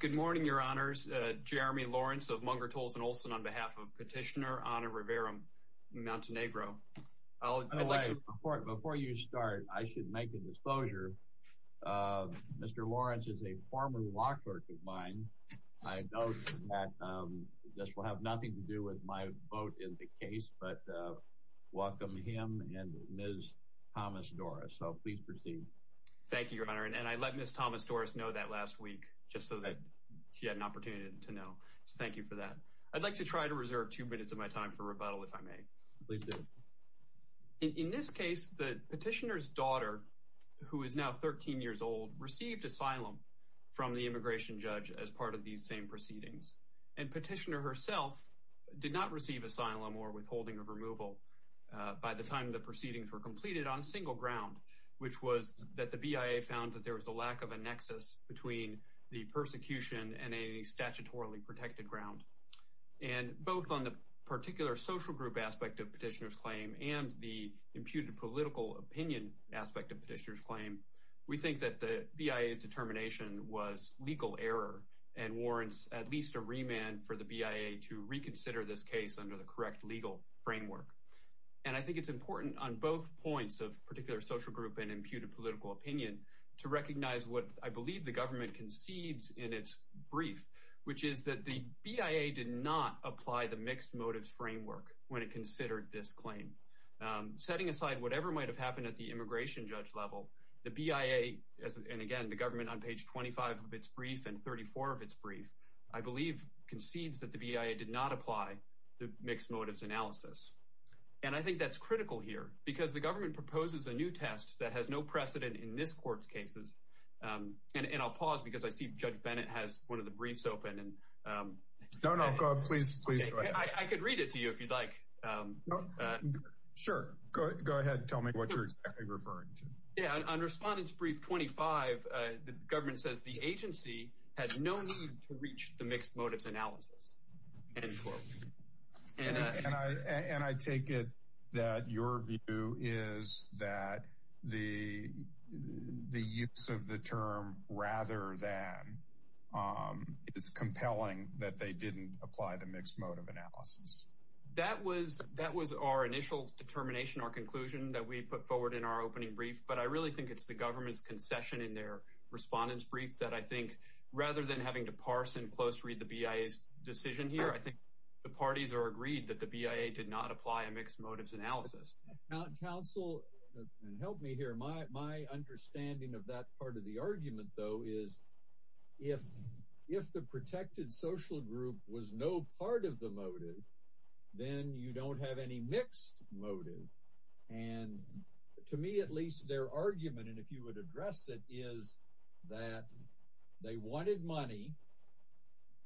Good morning, Your Honors. Jeremy Lawrence of Munger, Toulson, Olson on behalf of Petitioner Ana Rivera-Montenegro. Before you start, I should make a disclosure. Mr. Lawrence is a former law clerk of mine. I note that this will have nothing to do with my vote in the case, but welcome him and Ms. Thomas-Doris. So please proceed. Thank you, Your Honor. And I let Ms. Thomas-Doris know that last week, just so that she had an opportunity to know. So thank you for that. I'd like to try to reserve two minutes of my time for rebuttal, if I may. Please do. In this case, the petitioner's daughter, who is now 13 years old, received asylum from the immigration judge as part of these same proceedings. And petitioner herself did not receive asylum or withholding of removal by the time the proceedings were completed on a single ground, which was that the BIA found that there was a lack of a nexus between the persecution and a statutorily protected ground. And both on the particular social group aspect of petitioner's claim and the imputed political opinion aspect of petitioner's claim, we think that the BIA's determination was legal error and warrants at least a remand for the BIA to reconsider this case under the correct legal framework. And I think it's important on both points of particular social group and imputed political opinion to recognize what I believe the government concedes in its brief, which is that the BIA did not apply the mixed motives framework when it considered this claim. Setting aside whatever might have happened at the immigration judge level, the BIA, and again, the government on page 25 of its brief and 34 of its brief, I believe concedes that the BIA did not apply the mixed motives analysis. And I think that's critical here because the government proposes a new test that has no precedent in this court's cases. And I'll pause because I see Judge Bennett has one of the briefs open. No, no, please, please. I could read it to you if you'd like. Sure. Go ahead. Tell me what you're referring to. Yeah. On respondent's brief 25, the government says the agency had no need to reach the mixed motives analysis. And I take it that your view is that the the use of the term rather than it's compelling that they didn't apply the mixed motive analysis. That was that was our initial determination, our conclusion that we put forward in our opening brief. But I really think it's the government's concession in their respondents brief that I think rather than having to parse and close read the BIA's decision here, I think the parties are agreed that the BIA did not apply a mixed motives analysis. Now, counsel, help me here. My my understanding of that part of the argument, though, is if if the protected social group was no part of the motive, then you don't have any mixed motive. And to me, at least their argument. And if you would address it is that they wanted money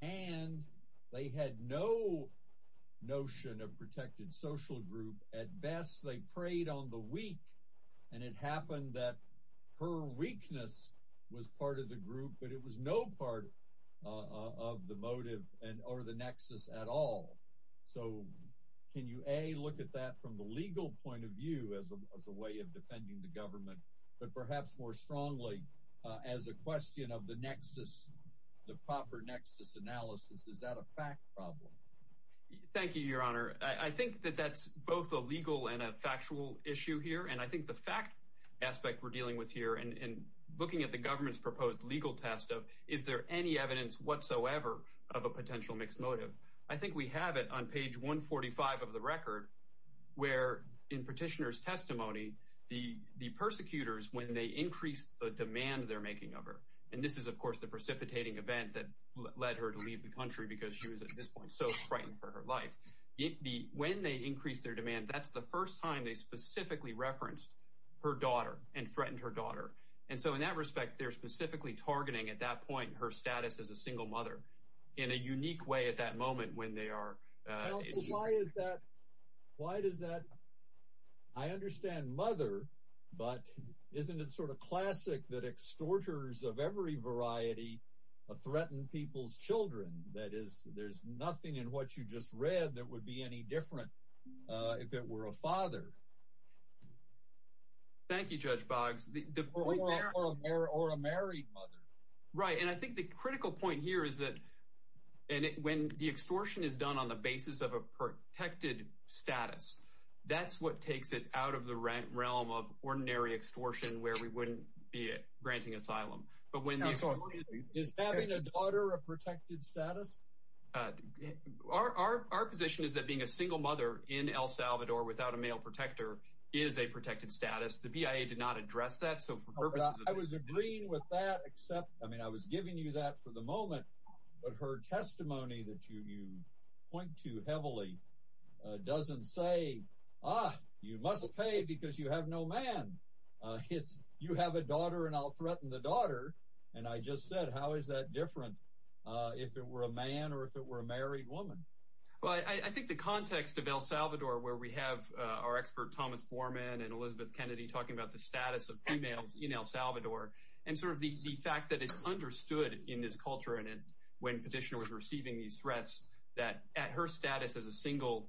and they had no notion of protected social group. At best, they preyed on the weak. And it happened that her weakness was part of the group. But it was no part of the motive and or the nexus at all. So can you a look at that from the legal point of view as a way of defending the government, but perhaps more strongly as a question of the nexus, the proper nexus analysis, is that a fact problem? Thank you, Your Honor. I think that that's both a legal and a factual issue here. And I think the fact aspect we're dealing with here and looking at the government's proposed legal test of is there any evidence whatsoever of a potential mixed motive? I think we have it on page 145 of the record where in petitioner's testimony, the the persecutors, when they increased the demand they're making of her. And this is, of course, the precipitating event that led her to leave the country because she was at this point so frightened for her life. It be when they increase their demand. That's the first time they specifically referenced her daughter and threatened her daughter. And so in that respect, they're specifically targeting at that point her status as a single mother in a unique way at that moment when they are. Why is that? Why does that? I understand mother. But isn't it sort of classic that extorters of every variety of threatened people's children? That is, there's nothing in what you just read that would be any different if it were a father. Thank you, Judge Boggs. Or a married mother. Right. And I think the critical point here is that when the extortion is done on the basis of a protected status, that's what takes it out of the realm of ordinary extortion where we wouldn't be granting asylum. But when is having a daughter, a protected status? Our our our position is that being a single mother in El Salvador without a male protector is a protected status. The BIA did not address that. So I was agreeing with that, except I mean, I was giving you that for the moment. But her testimony that you point to heavily doesn't say, ah, you must pay because you have no man hits. You have a daughter and I'll threaten the daughter. And I just said, how is that different if it were a man or if it were a married woman? Well, I think the context of El Salvador, where we have our expert Thomas Borman and Elizabeth Kennedy talking about the status of females in El Salvador and sort of the fact that it's understood in this culture. And when petitioner was receiving these threats that at her status as a single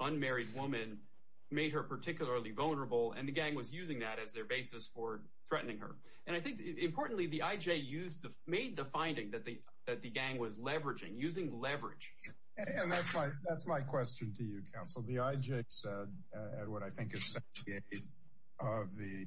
unmarried woman made her particularly vulnerable. And the gang was using that as their basis for threatening her. And I think importantly, the IJ used to made the finding that the that the gang was leveraging, using leverage. And that's why that's my question to you, counsel. The IJ said what I think is of the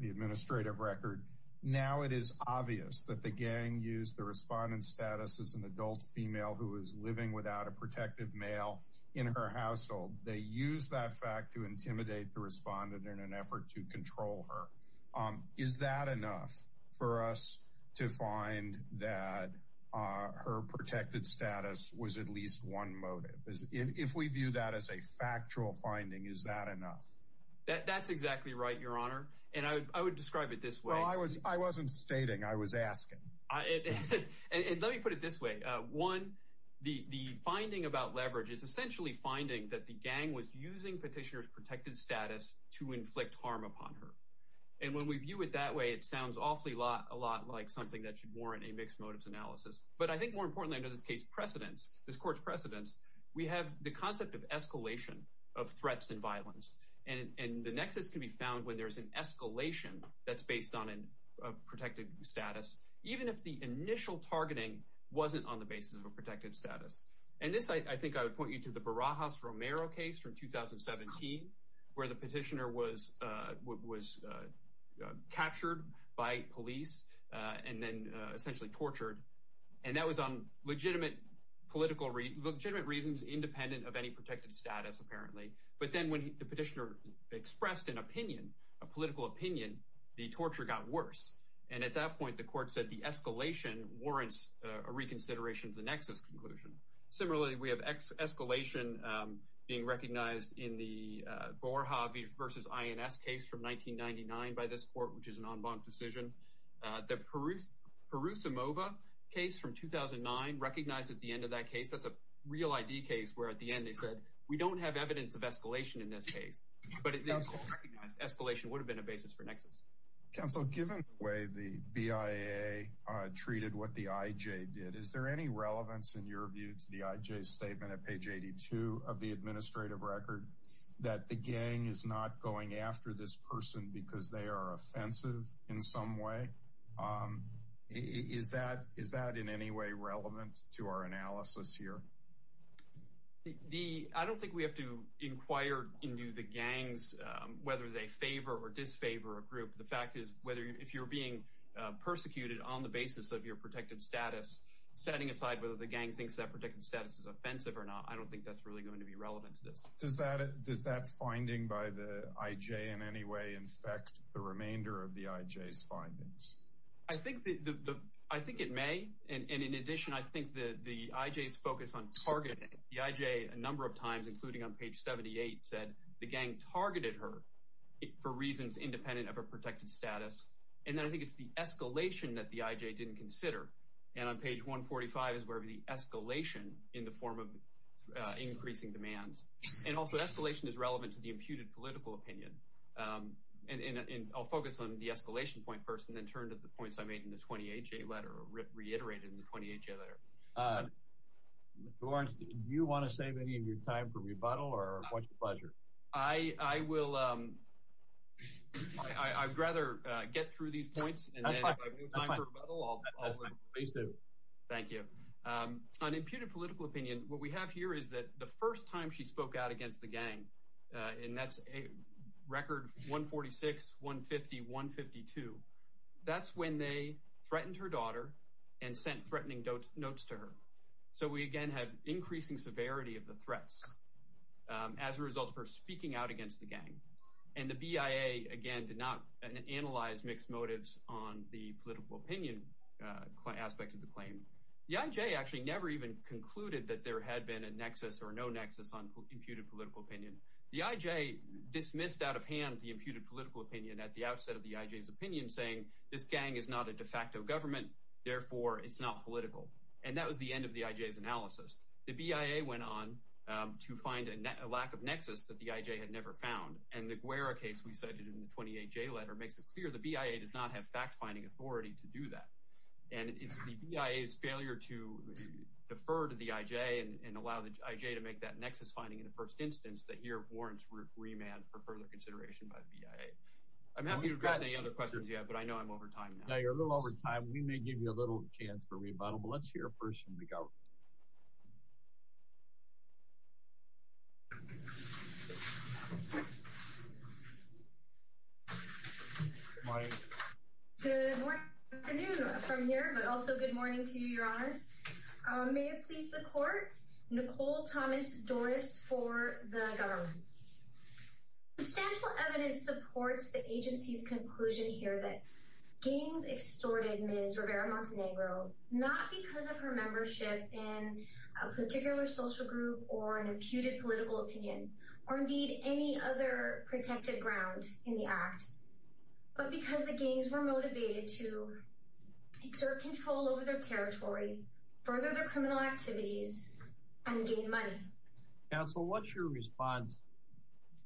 the administrative record. Now, it is obvious that the gang used the respondent status as an adult female who is living without a protective male in her household. They use that fact to intimidate the respondent in an effort to control her. Is that enough for us to find that her protected status was at least one motive? If we view that as a factual finding, is that enough? That's exactly right, Your Honor. And I would describe it this way. I was I wasn't stating I was asking. And let me put it this way. One, the finding about leverage is essentially finding that the gang was using petitioners protected status to inflict harm upon her. And when we view it that way, it sounds awfully a lot like something that should warrant a mixed motives analysis. But I think more importantly, in this case, precedents this court's precedents. We have the concept of escalation of threats and violence. And the nexus can be found when there is an escalation that's based on a protected status, even if the initial targeting wasn't on the basis of a protected status. And this, I think I would point you to the Barajas Romero case from 2017, where the petitioner was was captured by police and then essentially tortured. And that was on legitimate political legitimate reasons, independent of any protected status, apparently. But then when the petitioner expressed an opinion, a political opinion, the torture got worse. And at that point, the court said the escalation warrants a reconsideration of the nexus conclusion. Similarly, we have escalation being recognized in the Gore Harvey versus INS case from 1999 by this court, which is an en banc decision. The Perusa Mova case from 2009 recognized at the end of that case. That's a real ID case where at the end they said we don't have evidence of escalation in this case. But it was recognized escalation would have been a basis for nexus. Counsel, given the way the BIA treated what the IJ did, is there any relevance in your view to the IJ statement at page 82 of the administrative record that the gang is not going after this person because they are offensive? In some way, is that is that in any way relevant to our analysis here? The I don't think we have to inquire into the gangs, whether they favor or disfavor a group. The fact is, whether if you're being persecuted on the basis of your protected status, setting aside whether the gang thinks that protected status is offensive or not, I don't think that's really going to be relevant to this. Does that does that finding by the IJ in any way infect the remainder of the IJ's findings? I think the I think it may. And in addition, I think the IJ's focus on targeting the IJ a number of times, including on page 78, said the gang targeted her for reasons independent of her protected status. And then I think it's the escalation that the IJ didn't consider. And on page 145 is where the escalation in the form of increasing demands. And also escalation is relevant to the imputed political opinion. And I'll focus on the escalation point first and then turn to the points I made in the 28-J letter or reiterated in the 28-J letter. Lawrence, do you want to save any of your time for rebuttal or what's your pleasure? I will. I'd rather get through these points. Thank you. An imputed political opinion. What we have here is that the first time she spoke out against the gang, and that's a record 146, 150, 152. That's when they threatened her daughter and sent threatening notes to her. So we, again, have increasing severity of the threats as a result of her speaking out against the gang. And the BIA, again, did not analyze mixed motives on the political opinion aspect of the claim. The IJ actually never even concluded that there had been a nexus or no nexus on imputed political opinion. The IJ dismissed out of hand the imputed political opinion at the outset of the IJ's opinion saying this gang is not a de facto government, therefore it's not political. And that was the end of the IJ's analysis. The BIA went on to find a lack of nexus that the IJ had never found. And the Guerra case we cited in the 28-J letter makes it clear the BIA does not have fact-finding authority to do that. And it's the BIA's failure to defer to the IJ and allow the IJ to make that nexus finding in the first instance that here warrants remand for further consideration by the BIA. I'm happy to address any other questions you have, but I know I'm over time now. Now you're a little over time. We may give you a little chance for rebuttal, but let's hear a person make out. Good morning. Good morning from here, but also good morning to you, Your Honor. May it please the court, Nicole Thomas Doris for the government. Substantial evidence supports the agency's conclusion here that gangs extorted Ms. Rivera-Montenegro not because of her membership in a particular social group or an imputed political opinion or indeed any other protected ground in the act, but because the gangs were motivated to exert control over their territory, further their criminal activities, and gain money. Counsel, what's your response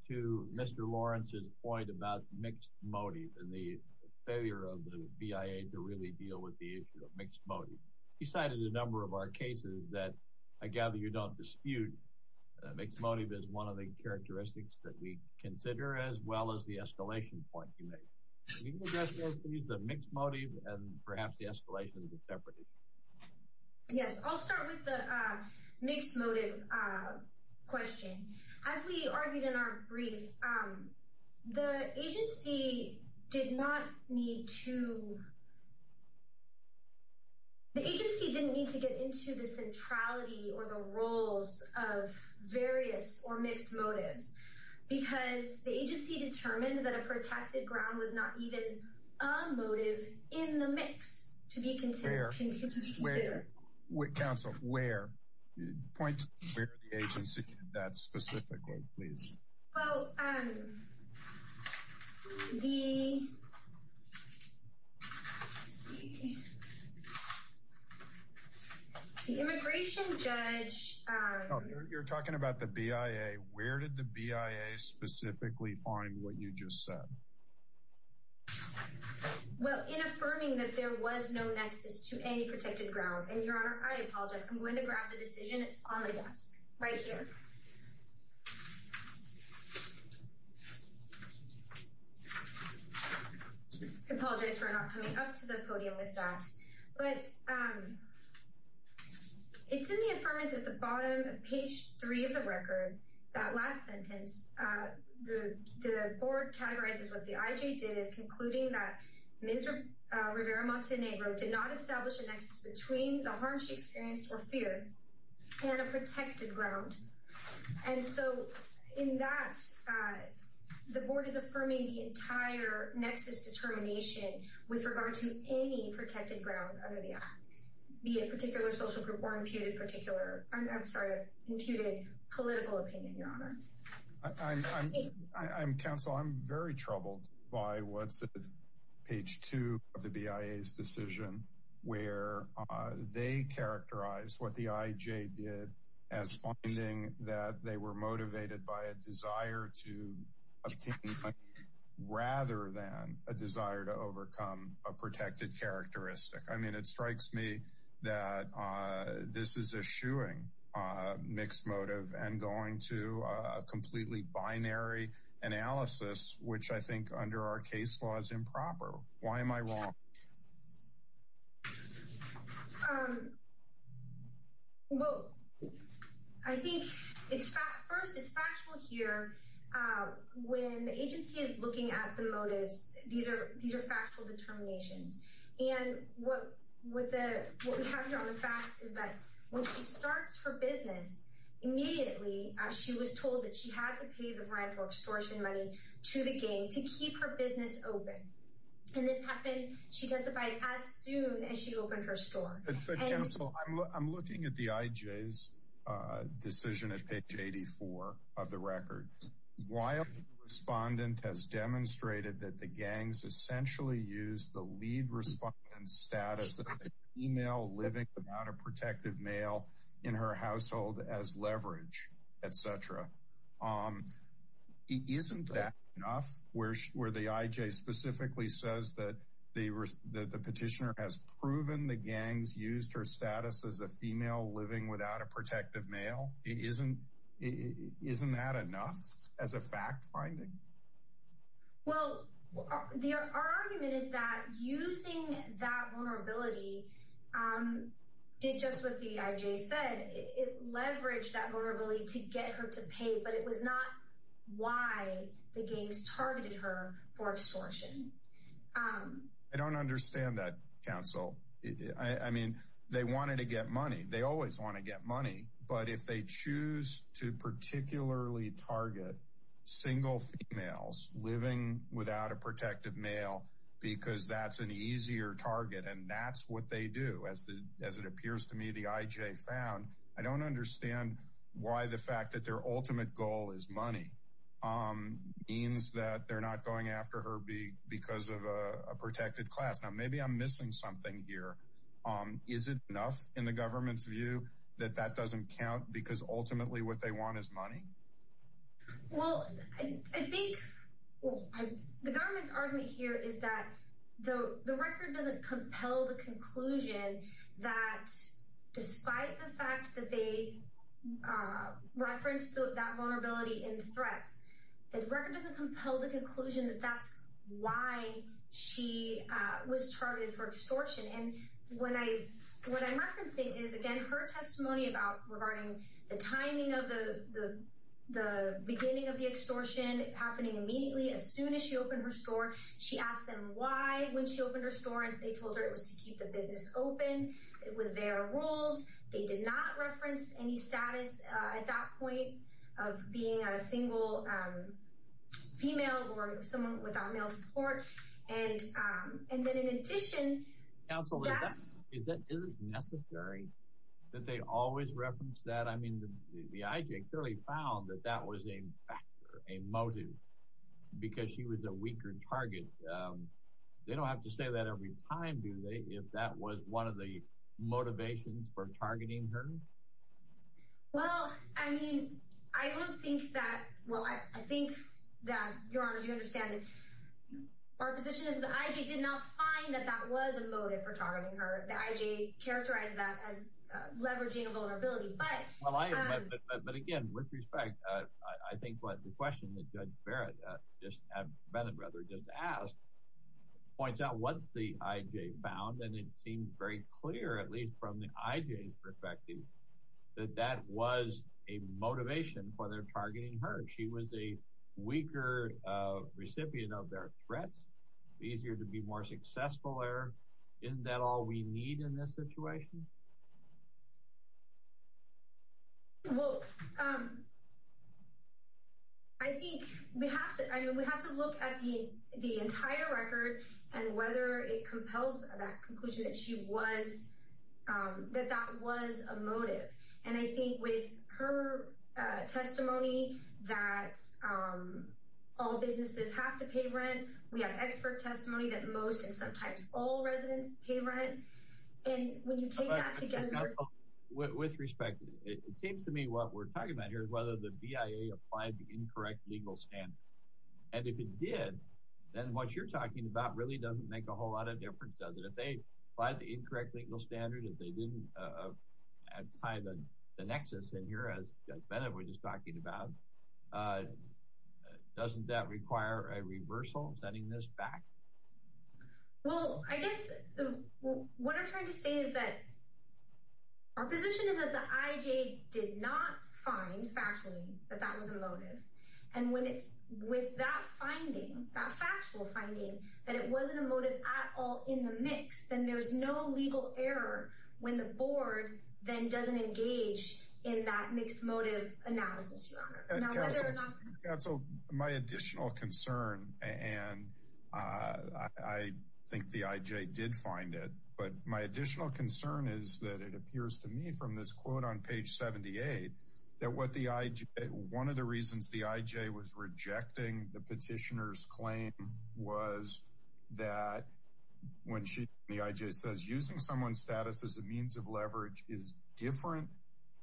to Mr. Lawrence's point about mixed motive and the failure of the BIA to really deal with the issue of mixed motive? He cited a number of our cases that I gather you don't dispute. Mixed motive is one of the characteristics that we consider as well as the escalation point you make. Can you address both the mixed motive and perhaps the escalation as a separate issue? Yes, I'll start with the mixed motive question. As we argued in our brief, the agency did not need to get into the centrality or the roles of various or mixed motives because the agency determined that a protected ground was not even a motive in the mix to be considered. Counsel, where? Point to where the agency did that specifically, please. Well, the immigration judge... You're talking about the BIA. Where did the BIA specifically find what you just said? Well, in affirming that there was no nexus to any protected ground. And, Your Honor, I apologize. I'm going to grab the decision. It's on my desk right here. I apologize for not coming up to the podium with that. But it's in the affirmative at the bottom of page three of the record. That last sentence, the board categorizes what the IJ did is concluding that Ms. Rivera-Montenegro did not establish a nexus between the harm she experienced or feared and a protected ground. And so in that, the board is affirming the entire nexus determination with regard to any protected ground under the act, be it a particular social group or imputed political opinion, Your Honor. Counsel, I'm very troubled by what's at page two of the BIA's decision where they characterize what the IJ did as finding that they were motivated by a desire to obtain money rather than a desire to overcome a protected characteristic. I mean, it strikes me that this is eschewing mixed motive and going to a completely binary analysis, which I think under our case law is improper. Why am I wrong? Well, I think it's first it's factual here. When the agency is looking at the motives, these are these are factual determinations. And what with what we have here on the facts is that when she starts her business immediately, she was told that she had to pay the rent or extortion money to the game to keep her business open. And this happened. She testified as soon as she opened her store. So I'm looking at the IJ's decision at page eighty four of the record. Why a respondent has demonstrated that the gangs essentially use the lead response and status email living out a protective male in her household as leverage, et cetera. Isn't that enough where where the IJ specifically says that they were the petitioner has proven the gangs used her status as a female living without a protective male isn't isn't that enough as a fact finding? Well, the argument is that using that vulnerability did just what the IJ said. It leveraged that vulnerability to get her to pay. But it was not why the gangs targeted her for extortion. I don't understand that counsel. I mean, they wanted to get money. They always want to get money. But if they choose to particularly target single females living without a protective male because that's an easier target and that's what they do as the as it appears to me, the IJ found. I don't understand why the fact that their ultimate goal is money means that they're not going after her because of a protected class. Now, maybe I'm missing something here. Is it enough in the government's view that that doesn't count? Because ultimately what they want is money. Well, I think the government's argument here is that the record doesn't compel the conclusion that despite the fact that they reference that vulnerability in threats, the record doesn't compel the conclusion that that's why she was targeted for extortion. And when I what I'm referencing is, again, her testimony about regarding the timing of the the beginning of the extortion happening immediately as soon as she opened her store. She asked them why when she opened her store and they told her it was to keep the business open. It was their rules. They did not reference any status at that point of being a single female or someone without male support. And and then in addition, absolutely necessary that they always reference that. I mean, the IJ clearly found that that was a factor, a motive because she was a weaker target. But they don't have to say that every time, do they, if that was one of the motivations for targeting her? Well, I mean, I don't think that. Well, I think that you understand that our position is that I did not find that that was a motive for targeting her. The IJ characterized that as leveraging a vulnerability. But again, with respect, I think what the question that Judge Barrett just asked points out what the IJ found, and it seemed very clear, at least from the IJ's perspective, that that was a motivation for their targeting her. She was a weaker recipient of their threats, easier to be more successful there. Isn't that all we need in this situation? Well, I think we have to I mean, we have to look at the the entire record and whether it compels that conclusion that she was that that was a motive. And I think with her testimony that all businesses have to pay rent, we have expert testimony that most and sometimes all residents pay rent. And when you take that together. With respect, it seems to me what we're talking about here is whether the BIA applied the incorrect legal standard. And if it did, then what you're talking about really doesn't make a whole lot of difference, does it? If they applied the incorrect legal standard, if they didn't tie the nexus in here, as Judge Bennett was just talking about, doesn't that require a reversal, sending this back? Well, I guess what I'm trying to say is that our position is that the IJ did not find factually that that was a motive. And when it's with that finding that factual finding that it wasn't a motive at all in the mix, then there's no legal error when the board then doesn't engage in that mixed motive analysis. So my additional concern and I think the IJ did find it. But my additional concern is that it appears to me from this quote on page 78 that what the IJ, one of the reasons the IJ was rejecting the petitioner's claim was that when she the IJ says using someone's status as a means of leverage is different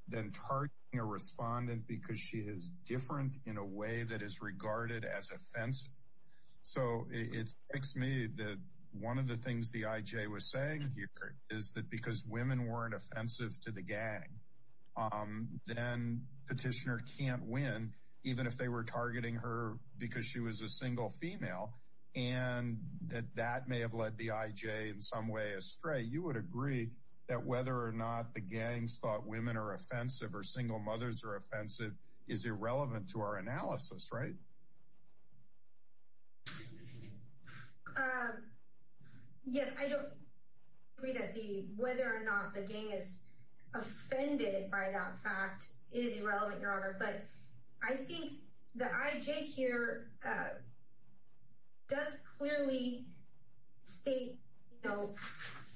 than targeting a respondent. Because she is different in a way that is regarded as offensive. So it makes me that one of the things the IJ was saying here is that because women weren't offensive to the gang, then petitioner can't win even if they were targeting her because she was a single female and that may have led the IJ in some way astray. You would agree that whether or not the gangs thought women are offensive or single mothers are offensive is irrelevant to our analysis, right? Yes, I don't agree that the whether or not the gang is offended by that fact is irrelevant, Your Honor. But I think the IJ here does clearly state, you know,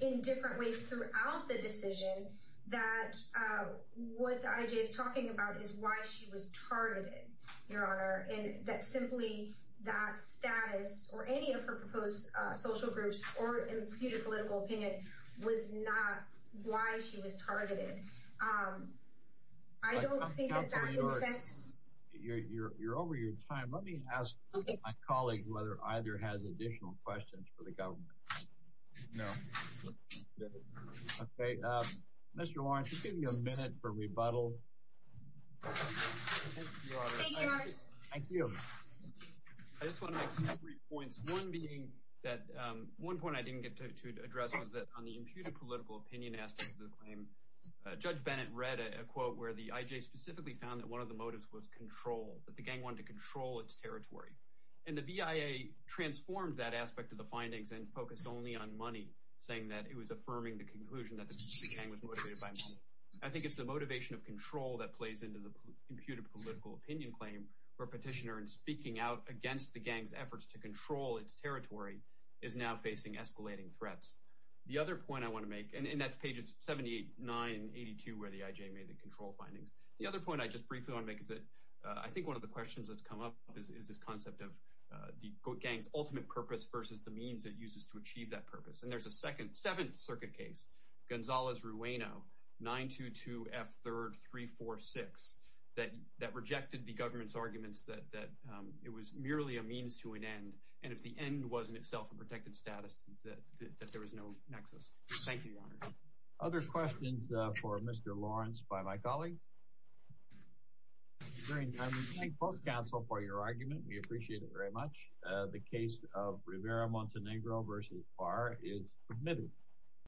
in different ways throughout the decision that what the IJ is talking about is why she was targeted, Your Honor, and that simply that status or any of her proposed social groups or imputed political opinion was not why she was targeted. I don't think that that affects... You're over your time. Let me ask my colleague whether either has additional questions for the government. Okay, Mr. Warren, just give me a minute for rebuttal. Thank you, Your Honor. Thank you. I just want to make two or three points. One being that one point I didn't get to address was that on the imputed political opinion aspect of the claim, Judge Bennett read a quote where the IJ specifically found that one of the motives was control, that the gang wanted to control its territory. And the BIA transformed that aspect of the findings and focused only on money, saying that it was affirming the conclusion that the gang was motivated by money. I think it's the motivation of control that plays into the imputed political opinion claim where Petitioner, in speaking out against the gang's efforts to control its territory, is now facing escalating threats. The other point I want to make, and that's pages 79 and 82 where the IJ made the control findings. The other point I just briefly want to make is that I think one of the questions that's come up is this concept of the gang's ultimate purpose versus the means it uses to achieve that purpose. And there's a second – seventh circuit case, Gonzales-Rueno, 922F3346, that rejected the government's arguments that it was merely a means to an end. And if the end wasn't itself a protected status, that there was no nexus. Thank you, Your Honor. Other questions for Mr. Lawrence by my colleagues? Great. I want to thank both counsel for your argument. We appreciate it very much. The case of Rivera-Montenegro v. Barr is submitted.